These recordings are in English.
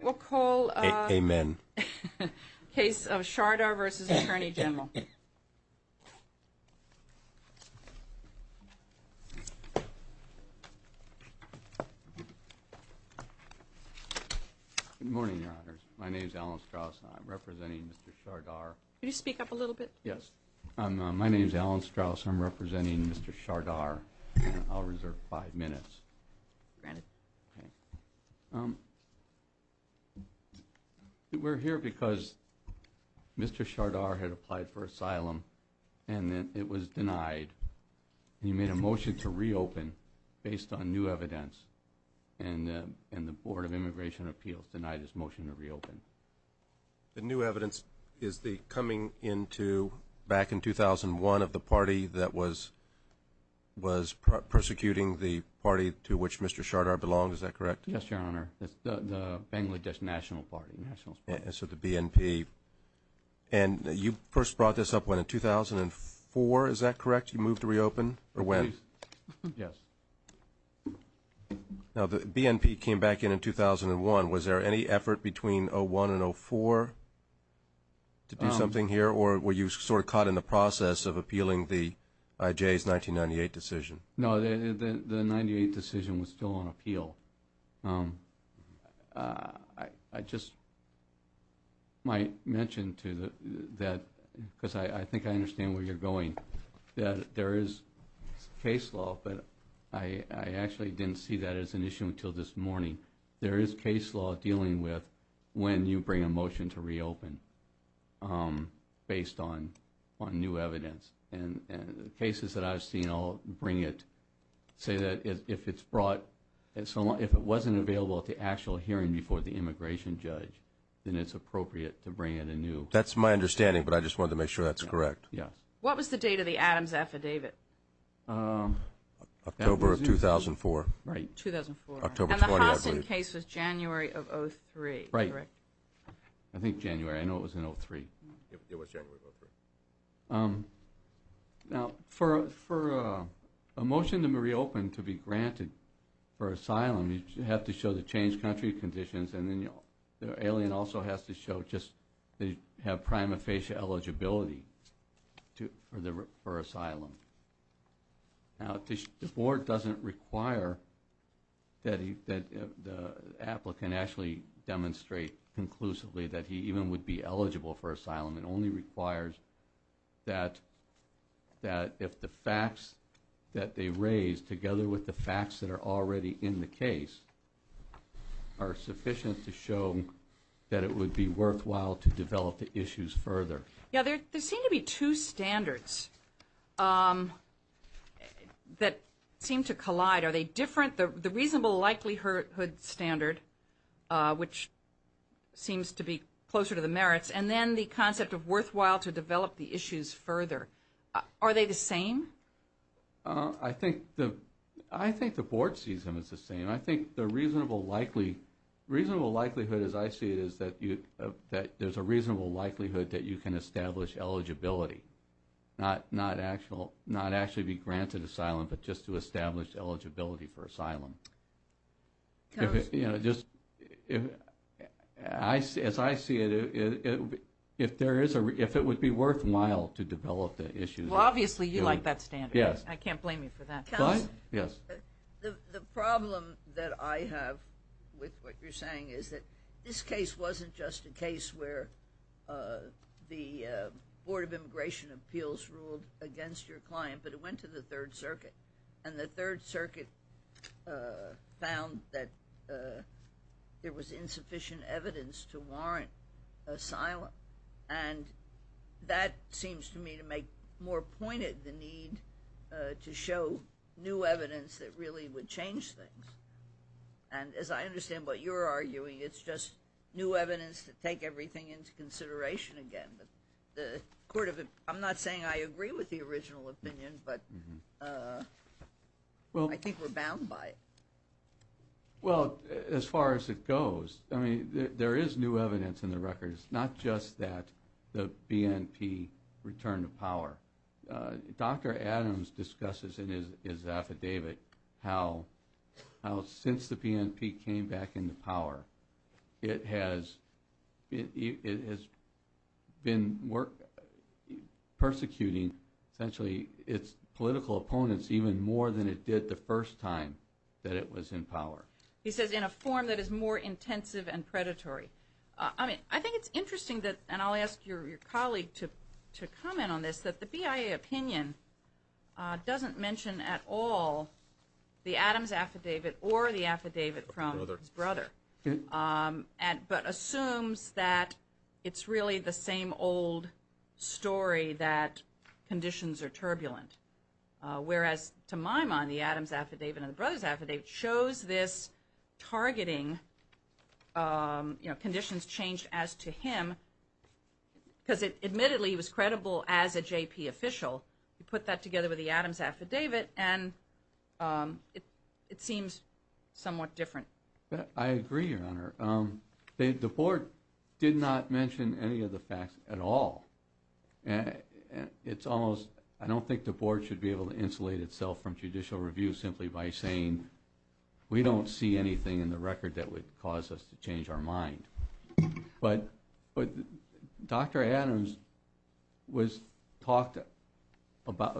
Good morning, your honors. My name is Alan Strauss and I'm representing Mr. Shardar. We're here because Mr. Shardar had applied for asylum and it was denied. He made a motion to reopen based on new evidence and the Board of Immigration Appeals denied his motion to reopen. The new evidence is the coming into back in 2001 of the party that was persecuting the party to which Mr. Shardar belongs, is that correct? Yes, your honor. It's the Bangladesh National Party. So the BNP. And you first brought this up in 2004, is that correct? You moved to reopen? Or when? Yes. Now the BNP came back in 2001. Was there any effort between 2001 and 2004 to do something here? Or were you sort of caught in the process of appealing the IJ's 1998 decision? No, the 98 decision was still on appeal. I just might mention to that, because I think I understand where you're going, that there is case law, but I actually didn't see that as an issue until this morning. There is case law dealing with when you bring a motion to reopen based on new evidence. And the cases that I've seen all bring it, say that if it's brought, if it wasn't available at the actual hearing before the immigration judge, then it's appropriate to bring it anew. That's my understanding, but I just wanted to make sure that's correct. Yes. What was the date of the Adams affidavit? October of 2004. Right, 2004. October 20, I believe. And the Hassen case was January of 03, correct? Right. I think January. I know it was in 03. It was January of 03. Now, for a motion to reopen to be granted for asylum, you have to show the changed country conditions, and then the alien also has to show just they have prima facie eligibility for asylum. Now, the board doesn't require that the applicant actually demonstrate conclusively that he even would be eligible for asylum. It only requires that if the facts that they raise, together with the facts that are already in the case, are sufficient to show that it would be worthwhile to develop the issues further. Yeah, there seem to be two standards that seem to collide. Are they different? The reasonable likelihood standard, which seems to be closer to the merits, and then the concept of worthwhile to develop the issues further. Are they the same? I think the board sees them as the same. I think the reasonable likelihood, as I see it, is that there's a reasonable likelihood that you can establish eligibility, not actually be granted asylum, but just to establish eligibility for asylum. If it, you know, just, as I see it, if it would be worthwhile to develop the issues. Well, obviously, you like that standard. Yes. I can't blame you for that. The problem that I have with what you're saying is that this case wasn't just a case where the Board of Immigration Appeals ruled against your client, but it went to the Third Circuit. And the Third Circuit found that there was insufficient evidence to warrant asylum. And that seems to me to make more pointed the need to show new evidence that really would change things. And as I understand what you're arguing, it's just new evidence to take everything into consideration again. I'm not saying I agree with the original opinion, but I think we're bound by it. Well, as far as it goes, I mean, there is new evidence in the record. It's not just that the BNP returned to power. Dr. Adams discusses in his affidavit how since the BNP came back into power, it has been persecuting, essentially, its political opponents even more than it did the first time that it was in power. He says in a form that is more intensive and predatory. I mean, I think it's interesting that, and I'll ask your colleague to comment on this, that the BIA opinion doesn't mention at all the Adams affidavit or the affidavit from his brother, but assumes that it's really the same old story that conditions are turbulent. Whereas to my mind, the Adams affidavit and the brothers affidavit shows this targeting, conditions change as to him, because admittedly he was credible as a JP official. You put that together with the Adams affidavit, and it seems somewhat different. I agree, Your Honor. The Board did not mention any of the facts at all. It's almost, I don't think the Board should be able to insulate itself from judicial review simply by saying, we don't see anything in the record that would cause us to change our mind. But Dr. Adams talked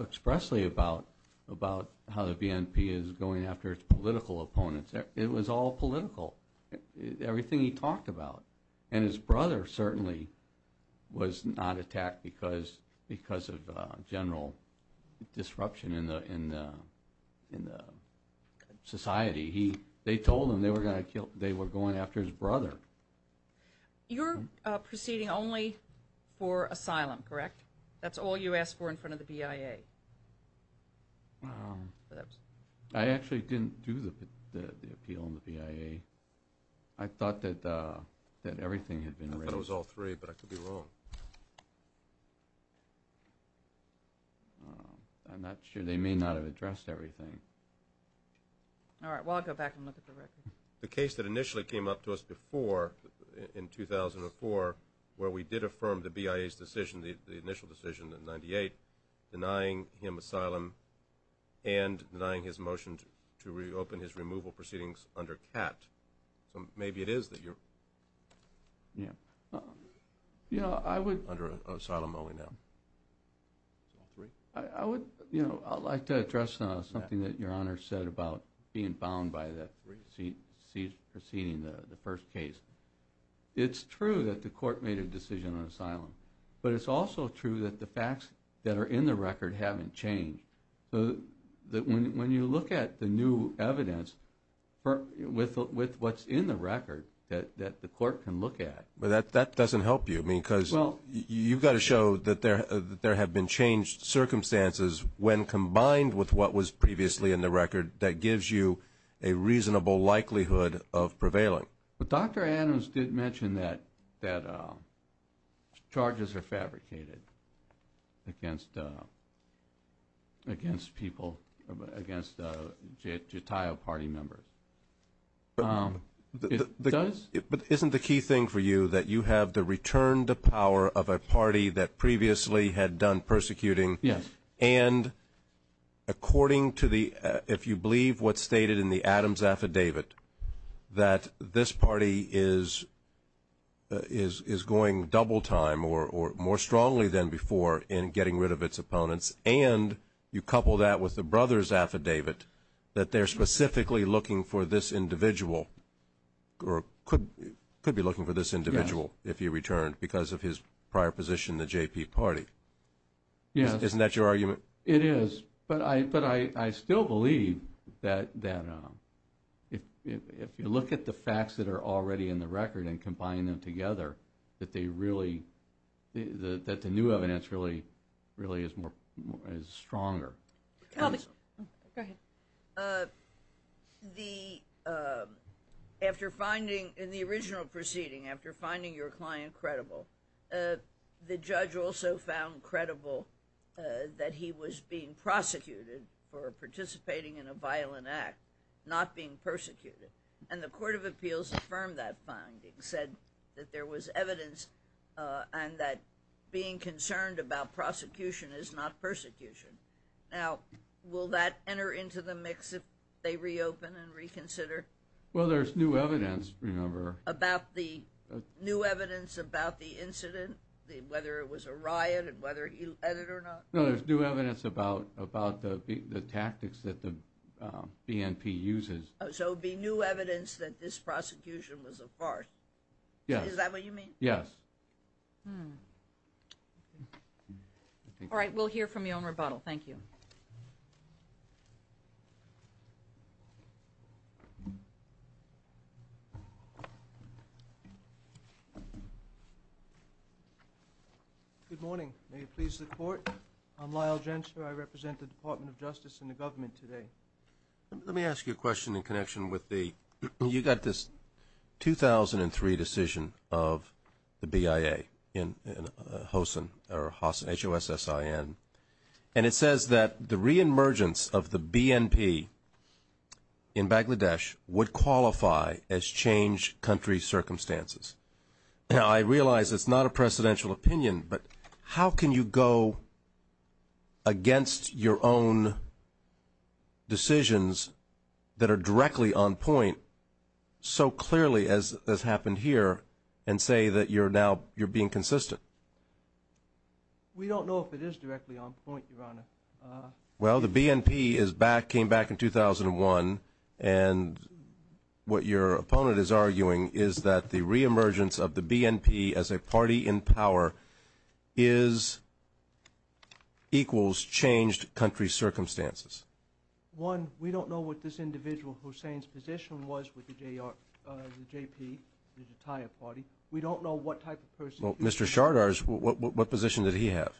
expressly about how the BNP is going after its political opponents. It was all political, everything he talked about. And his brother certainly was not attacked because of general disruption in society. They told him they were going after his brother. You're proceeding only for asylum, correct? That's all you asked for in front of the BIA? I actually didn't do the appeal in the BIA. I thought that everything had been raised. I thought it was all three, but I could be wrong. I'm not sure. They may not have addressed everything. All right. Well, I'll go back and look at the record. The case that initially came up to us before, in 2004, where we did affirm the BIA's decision, the initial decision in 98, denying him asylum and denying his motion to reopen his removal proceedings under CAT. So maybe it is that you're under asylum only now. I would like to address something that Your Honor said about being bound by that proceeding, the first case. It's true that the court made a decision on asylum. But it's also true that the facts that are in the record haven't changed. When you look at the new evidence with what's in the record that the court can look at. Well, that doesn't help you because you've got to show that there have been changed circumstances when combined with what was previously in the record that gives you a reasonable likelihood of prevailing. But Dr. Adams did mention that charges are fabricated against people, against JATIO party members. It does? But isn't the key thing for you that you have the return to power of a party that previously had done persecuting? Yes. And according to the, if you believe what's stated in the Adams affidavit, that this party is going double time or more strongly than before in getting rid of its opponents and you couple that with the brothers affidavit that they're specifically looking for this individual or could be looking for this individual if he returned because of his prior position in the JP party. Yes. Isn't that your argument? It is, but I still believe that if you look at the facts that are already in the record and combine them together that they really, that the new evidence really is stronger. Go ahead. The, after finding, in the original proceeding, after finding your client credible, the judge also found credible that he was being prosecuted for participating in a violent act, not being persecuted. And the court of appeals affirmed that finding, said that there was evidence and that being concerned about prosecution is not persecution. Now, will that enter into the mix if they reopen and reconsider? Well, there's new evidence, remember. About the new evidence about the incident, whether it was a riot and whether he led it or not? No, there's new evidence about the tactics that the BNP uses. So it would be new evidence that this prosecution was a farce. Yes. Is that what you mean? Yes. Hmm. All right, we'll hear from you on rebuttal. Thank you. Good morning. May it please the Court. I'm Lyle Gensler. I represent the Department of Justice and the government today. Let me ask you a question in connection with the, you got this 2003 decision of the BIA in HOSIN, H-O-S-S-I-N. And it says that the reemergence of the BNP in Bangladesh would qualify as changed country circumstances. Now, I realize it's not a presidential opinion, but how can you go against your own decisions that are directly on point so clearly as has happened here and say that you're now, you're being consistent? We don't know if it is directly on point, Your Honor. Well, the BNP is back, came back in 2001, and what your opponent is arguing is that the reemergence of the BNP as a party in power is equals changed country circumstances. One, we don't know what this individual Hussein's position was with the JP, the Jatiyah party. We don't know what type of person he was. Well, Mr. Shardar's, what position did he have?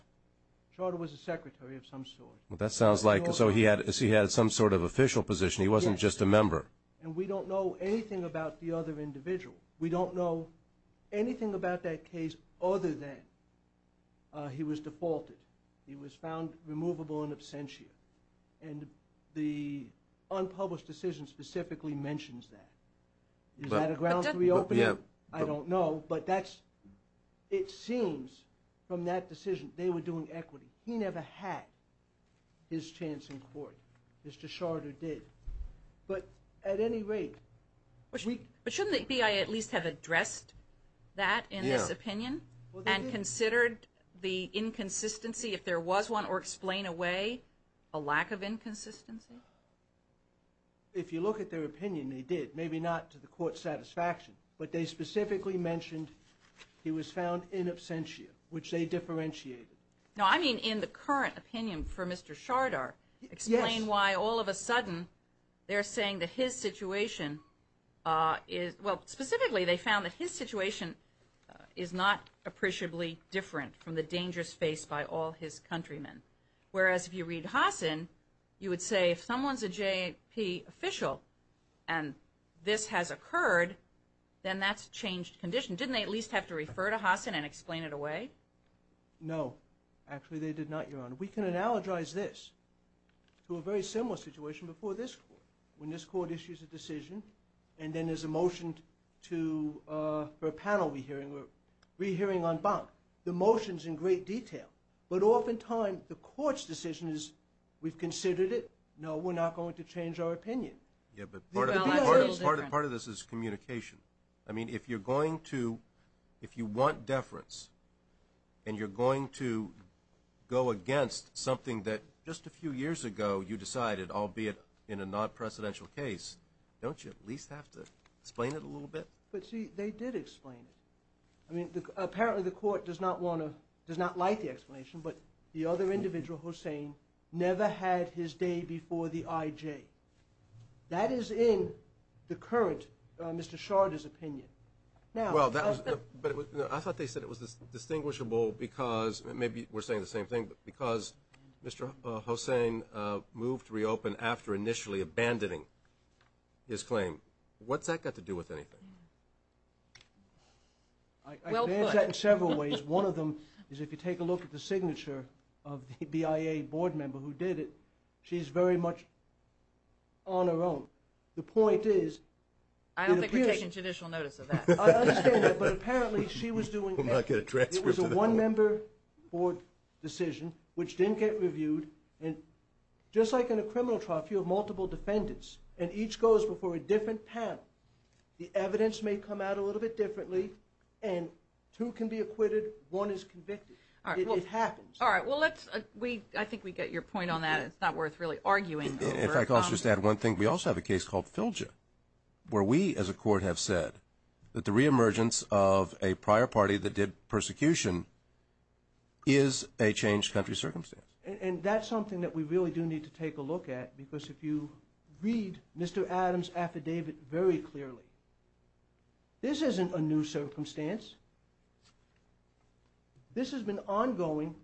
Shardar was a secretary of some sort. Well, that sounds like, so he had some sort of official position. He wasn't just a member. And we don't know anything about the other individual. We don't know anything about that case other than he was defaulted. He was found removable in absentia. And the unpublished decision specifically mentions that. Is that a ground to reopen it? I don't know, but that's, it seems from that decision they were doing equity. He never had his chance in court. Mr. Shardar did. But at any rate. But shouldn't the BI at least have addressed that in this opinion? Yeah. And considered the inconsistency if there was one or explain away a lack of inconsistency? If you look at their opinion, they did. Maybe not to the court's satisfaction. But they specifically mentioned he was found in absentia, which they differentiated. No, I mean in the current opinion for Mr. Shardar. Explain why all of a sudden they're saying that his situation is, well, specifically they found that his situation is not appreciably different from the dangerous face by all his countrymen. Whereas if you read Hassan, you would say if someone's a JP official and this has occurred, then that's a changed condition. Didn't they at least have to refer to Hassan and explain it away? No. Actually they did not, Your Honor. We can analogize this to a very similar situation before this court. When this court issues a decision and then there's a motion for a panel re-hearing or re-hearing en banc, the motion's in great detail. But oftentimes the court's decision is we've considered it. No, we're not going to change our opinion. Yeah, but part of this is communication. I mean if you're going to, if you want deference and you're going to go against something that just a few years ago you decided, albeit in a non-presidential case, don't you at least have to explain it a little bit? But see, they did explain it. I mean apparently the court does not want to, does not like the explanation, but the other individual, Hossain, never had his day before the IJ. That is in the current Mr. Sharder's opinion. Well, I thought they said it was distinguishable because, and maybe we're saying the same thing, but because Mr. Hossain moved to reopen after initially abandoning his claim. What's that got to do with anything? I advance that in several ways. One of them is if you take a look at the signature of the BIA board member who did it, she's very much on her own. The point is it appears. I don't think we're taking judicial notice of that. I understand that, but apparently she was doing it. It was a one-member board decision which didn't get reviewed, and just like in a criminal trial if you have multiple defendants and each goes before a different panel, the evidence may come out a little bit differently, and two can be acquitted, one is convicted. It happens. All right. Well, I think we get your point on that. It's not worth really arguing over. If I could just add one thing. We also have a case called Filja, where we as a court have said that the reemergence of a prior party that did persecution is a changed country circumstance. And that's something that we really do need to take a look at because if you read Mr. Adams' affidavit very clearly, this isn't a new circumstance. This has been ongoing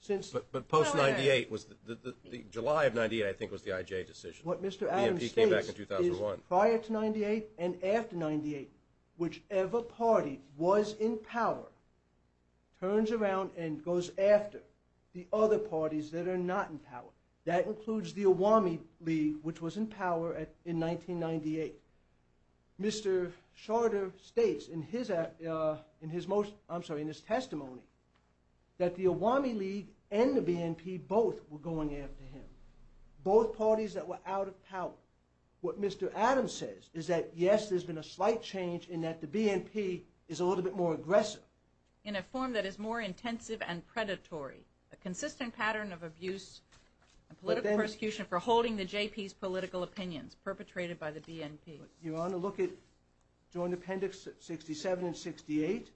since... But post-98, July of 98, I think, was the IJ decision. What Mr. Adams states is prior to 98 and after 98, whichever party was in power turns around and goes after the other parties that are not in power. That includes the Awami League, which was in power in 1998. Mr. Shorter states in his testimony that the Awami League and the BNP both were going after him, both parties that were out of power. What Mr. Adams says is that, yes, there's been a slight change in that the BNP is a little bit more aggressive. In a form that is more intensive and predatory, a consistent pattern of abuse and political persecution for holding the JP's political opinions, perpetrated by the BNP. Your Honor, look at Joint Appendix 67 and 68.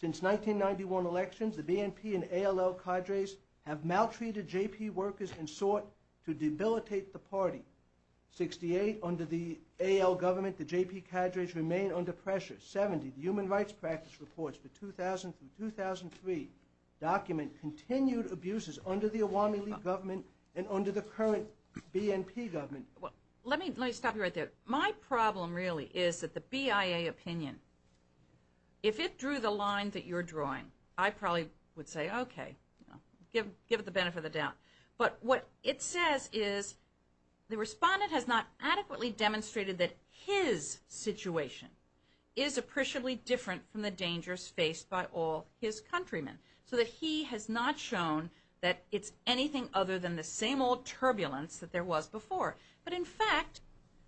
Since 1991 elections, the BNP and ALL cadres have maltreated JP workers and sought to debilitate the party. 68, under the AL government, the JP cadres remain under pressure. 70, human rights practice reports for 2000 through 2003 document continued abuses under the Awami League government and under the current BNP government. Let me stop you right there. My problem really is that the BIA opinion, if it drew the line that you're drawing, I probably would say, okay, give it the benefit of the doubt. But what it says is the respondent has not adequately demonstrated that his situation is appreciably different from the dangers faced by all his countrymen. So that he has not shown that it's anything other than the same old turbulence that there was before. But in fact,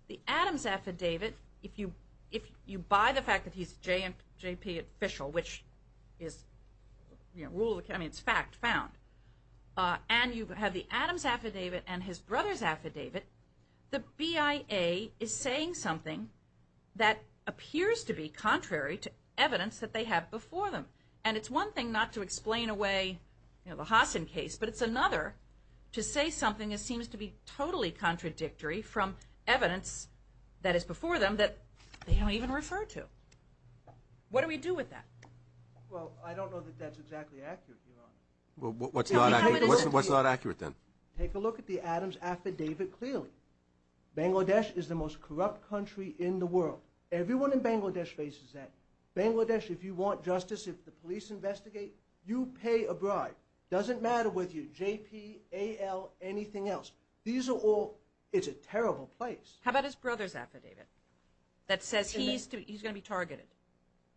the Adams affidavit, if you buy the fact that he's a JP official, which is fact found, and you have the Adams affidavit and his brother's affidavit, the BIA is saying something that appears to be contrary to evidence that they have before them. And it's one thing not to explain away the Hassan case, but it's another to say something that seems to be totally contradictory from evidence that is before them that they don't even refer to. What do we do with that? Well, I don't know that that's exactly accurate, Your Honor. What's not accurate then? Take a look at the Adams affidavit clearly. Bangladesh is the most corrupt country in the world. Everyone in Bangladesh faces that. Bangladesh, if you want justice, if the police investigate, you pay a bribe. Doesn't matter whether you're JP, AL, anything else. These are all... it's a terrible place. How about his brother's affidavit that says he's going to be targeted?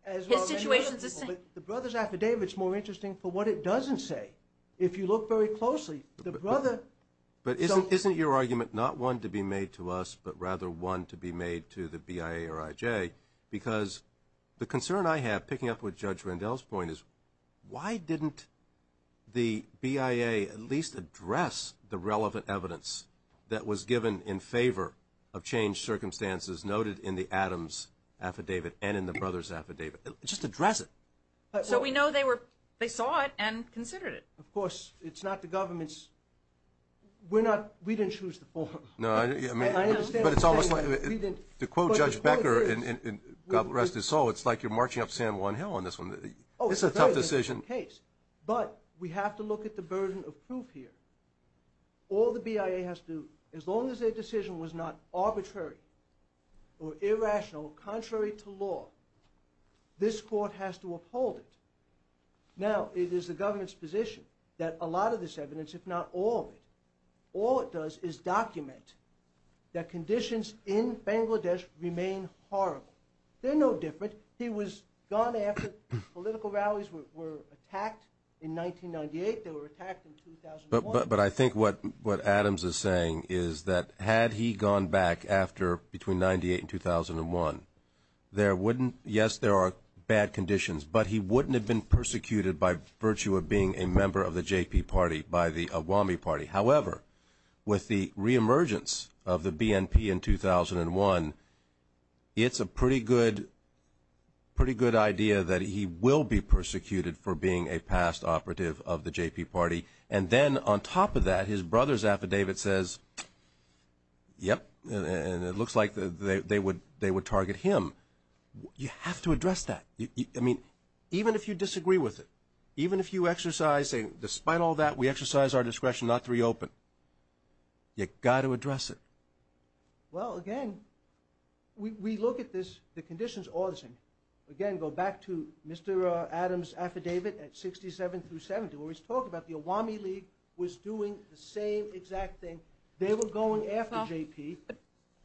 His situation's the same. The brother's affidavit's more interesting for what it doesn't say. If you look very closely, the brother... But isn't your argument not one to be made to us, but rather one to be made to the BIA or IJ, because the concern I have, picking up with Judge Randall's point, is why didn't the BIA at least address the relevant evidence that was given in favor of changed circumstances noted in the Adams affidavit and in the brother's affidavit? Just address it. So we know they saw it and considered it. Of course. It's not the government's... We didn't choose the form. No, I mean, but it's almost like... To quote Judge Becker in God Rest His Soul, it's like you're marching up San Juan Hill on this one. It's a tough decision. But we have to look at the burden of proof here. All the BIA has to do, as long as their decision was not arbitrary or irrational, contrary to law, this court has to uphold it. Now, it is the government's position that a lot of this evidence, if not all of it, all it does is document that conditions in Bangladesh remain horrible. They're no different. He was gone after political rallies were attacked in 1998. They were attacked in 2001. But I think what Adams is saying is that had he gone back after, between 1998 and 2001, there wouldn't... Yes, there are bad conditions, but he wouldn't have been persecuted by virtue of being a member of the JP party, by the Awami party. However, with the reemergence of the BNP in 2001, it's a pretty good idea that he will be persecuted for being a past operative of the JP party. And then on top of that, his brother's affidavit says, yep, and it looks like they would target him. You have to address that. I mean, even if you disagree with it, even if you exercise, despite all that, we exercise our discretion not to reopen. You've got to address it. Well, again, we look at this, the conditions are the same. Again, go back to Mr. Adams' affidavit at 67 through 70, where he's talking about the Awami League was doing the same exact thing. They were going after JP.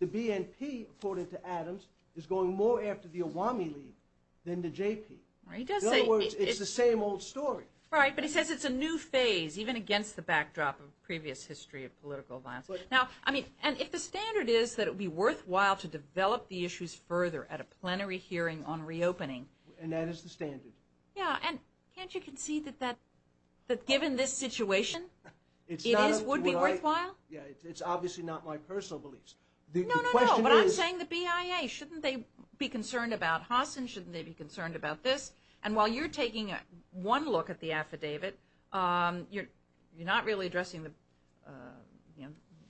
The BNP, according to Adams, is going more after the Awami League than the JP. In other words, it's the same old story. Right. But he says it's a new phase, even against the backdrop of previous history of political violence. Now, I mean, and if the standard is that it would be worthwhile to develop the issues further at a plenary hearing on reopening. And that is the standard. Yeah. And can't you concede that given this situation, it would be worthwhile? Yeah. It's obviously not my personal beliefs. No, no, no. But I'm saying the BIA. Shouldn't they be concerned about Hassan? Shouldn't they be concerned about this? And while you're taking one look at the affidavit, you're not really addressing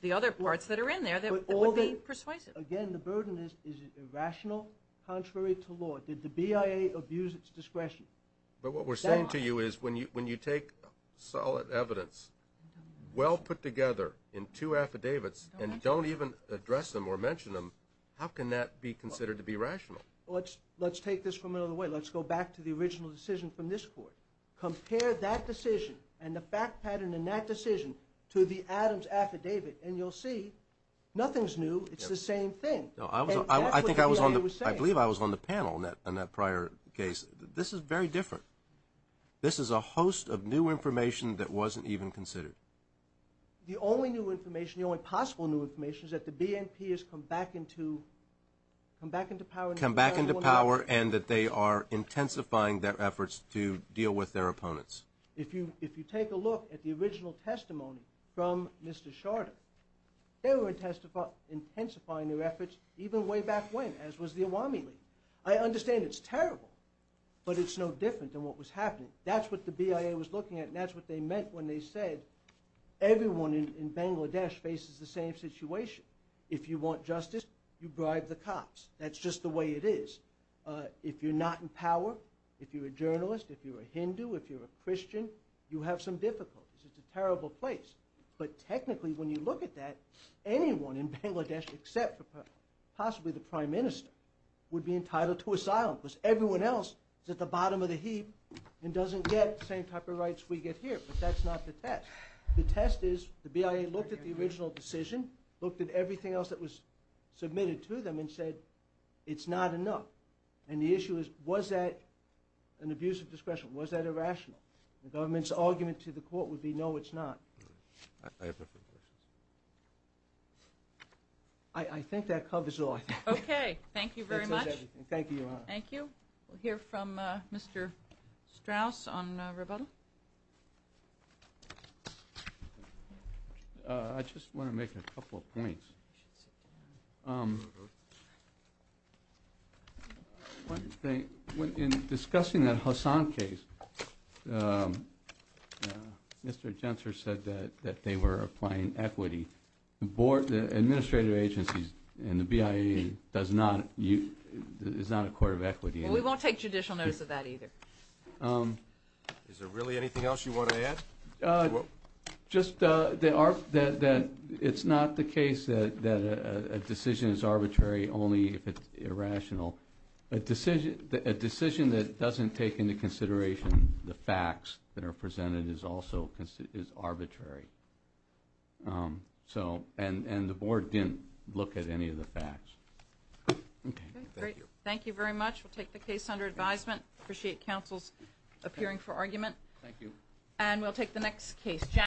the other parts that are in there that would be persuasive. Again, the burden is, is it irrational? Contrary to law? Did the BIA abuse its discretion? But what we're saying to you is when you take solid evidence, well put together in two affidavits, and don't even address them or mention them, how can that be considered to be rational? Let's take this from another way. Let's go back to the original decision from this court. Compare that decision and the fact pattern in that decision to the Adams affidavit, and you'll see nothing's new. It's the same thing. I think I was on the panel in that prior case. This is very different. This is a host of new information that wasn't even considered. The only new information, the only possible new information, is that the BNP has come back into power. Come back into power and that they are intensifying their efforts to deal with their opponents. If you take a look at the original testimony from Mr. Shorter, they were intensifying their efforts even way back when, as was the Awami League. I understand it's terrible, but it's no different than what was happening. That's what the BIA was looking at, and that's what they meant when they said, everyone in Bangladesh faces the same situation. If you want justice, you bribe the cops. That's just the way it is. If you're not in power, if you're a journalist, if you're a Hindu, if you're a Christian, you have some difficulties. It's a terrible place. But technically, when you look at that, anyone in Bangladesh except possibly the prime minister would be entitled to asylum because everyone else is at the bottom of the heap and doesn't get the same type of rights we get here, but that's not the test. The test is the BIA looked at the original decision, looked at everything else that was submitted to them and said, it's not enough. And the issue is, was that an abuse of discretion? Was that irrational? The government's argument to the court would be, no, it's not. I have no further questions. I think that covers it all. Okay. Thank you very much. Thank you, Your Honor. Thank you. We'll hear from Mr. Strauss on rebuttal. I just want to make a couple of points. In discussing that Hassan case, Mr. Jentzer said that they were applying equity. The administrative agencies and the BIA is not a court of equity. Well, we won't take judicial notice of that either. Is there really anything else you want to add? Just that it's not the case that a decision is arbitrary only if it's irrational. A decision that doesn't take into consideration the facts that are presented is also arbitrary. And the board didn't look at any of the facts. Okay. Thank you. Thank you very much. We'll take the case under advisement. Appreciate counsel's appearing for argument. Thank you. And we'll take the next case.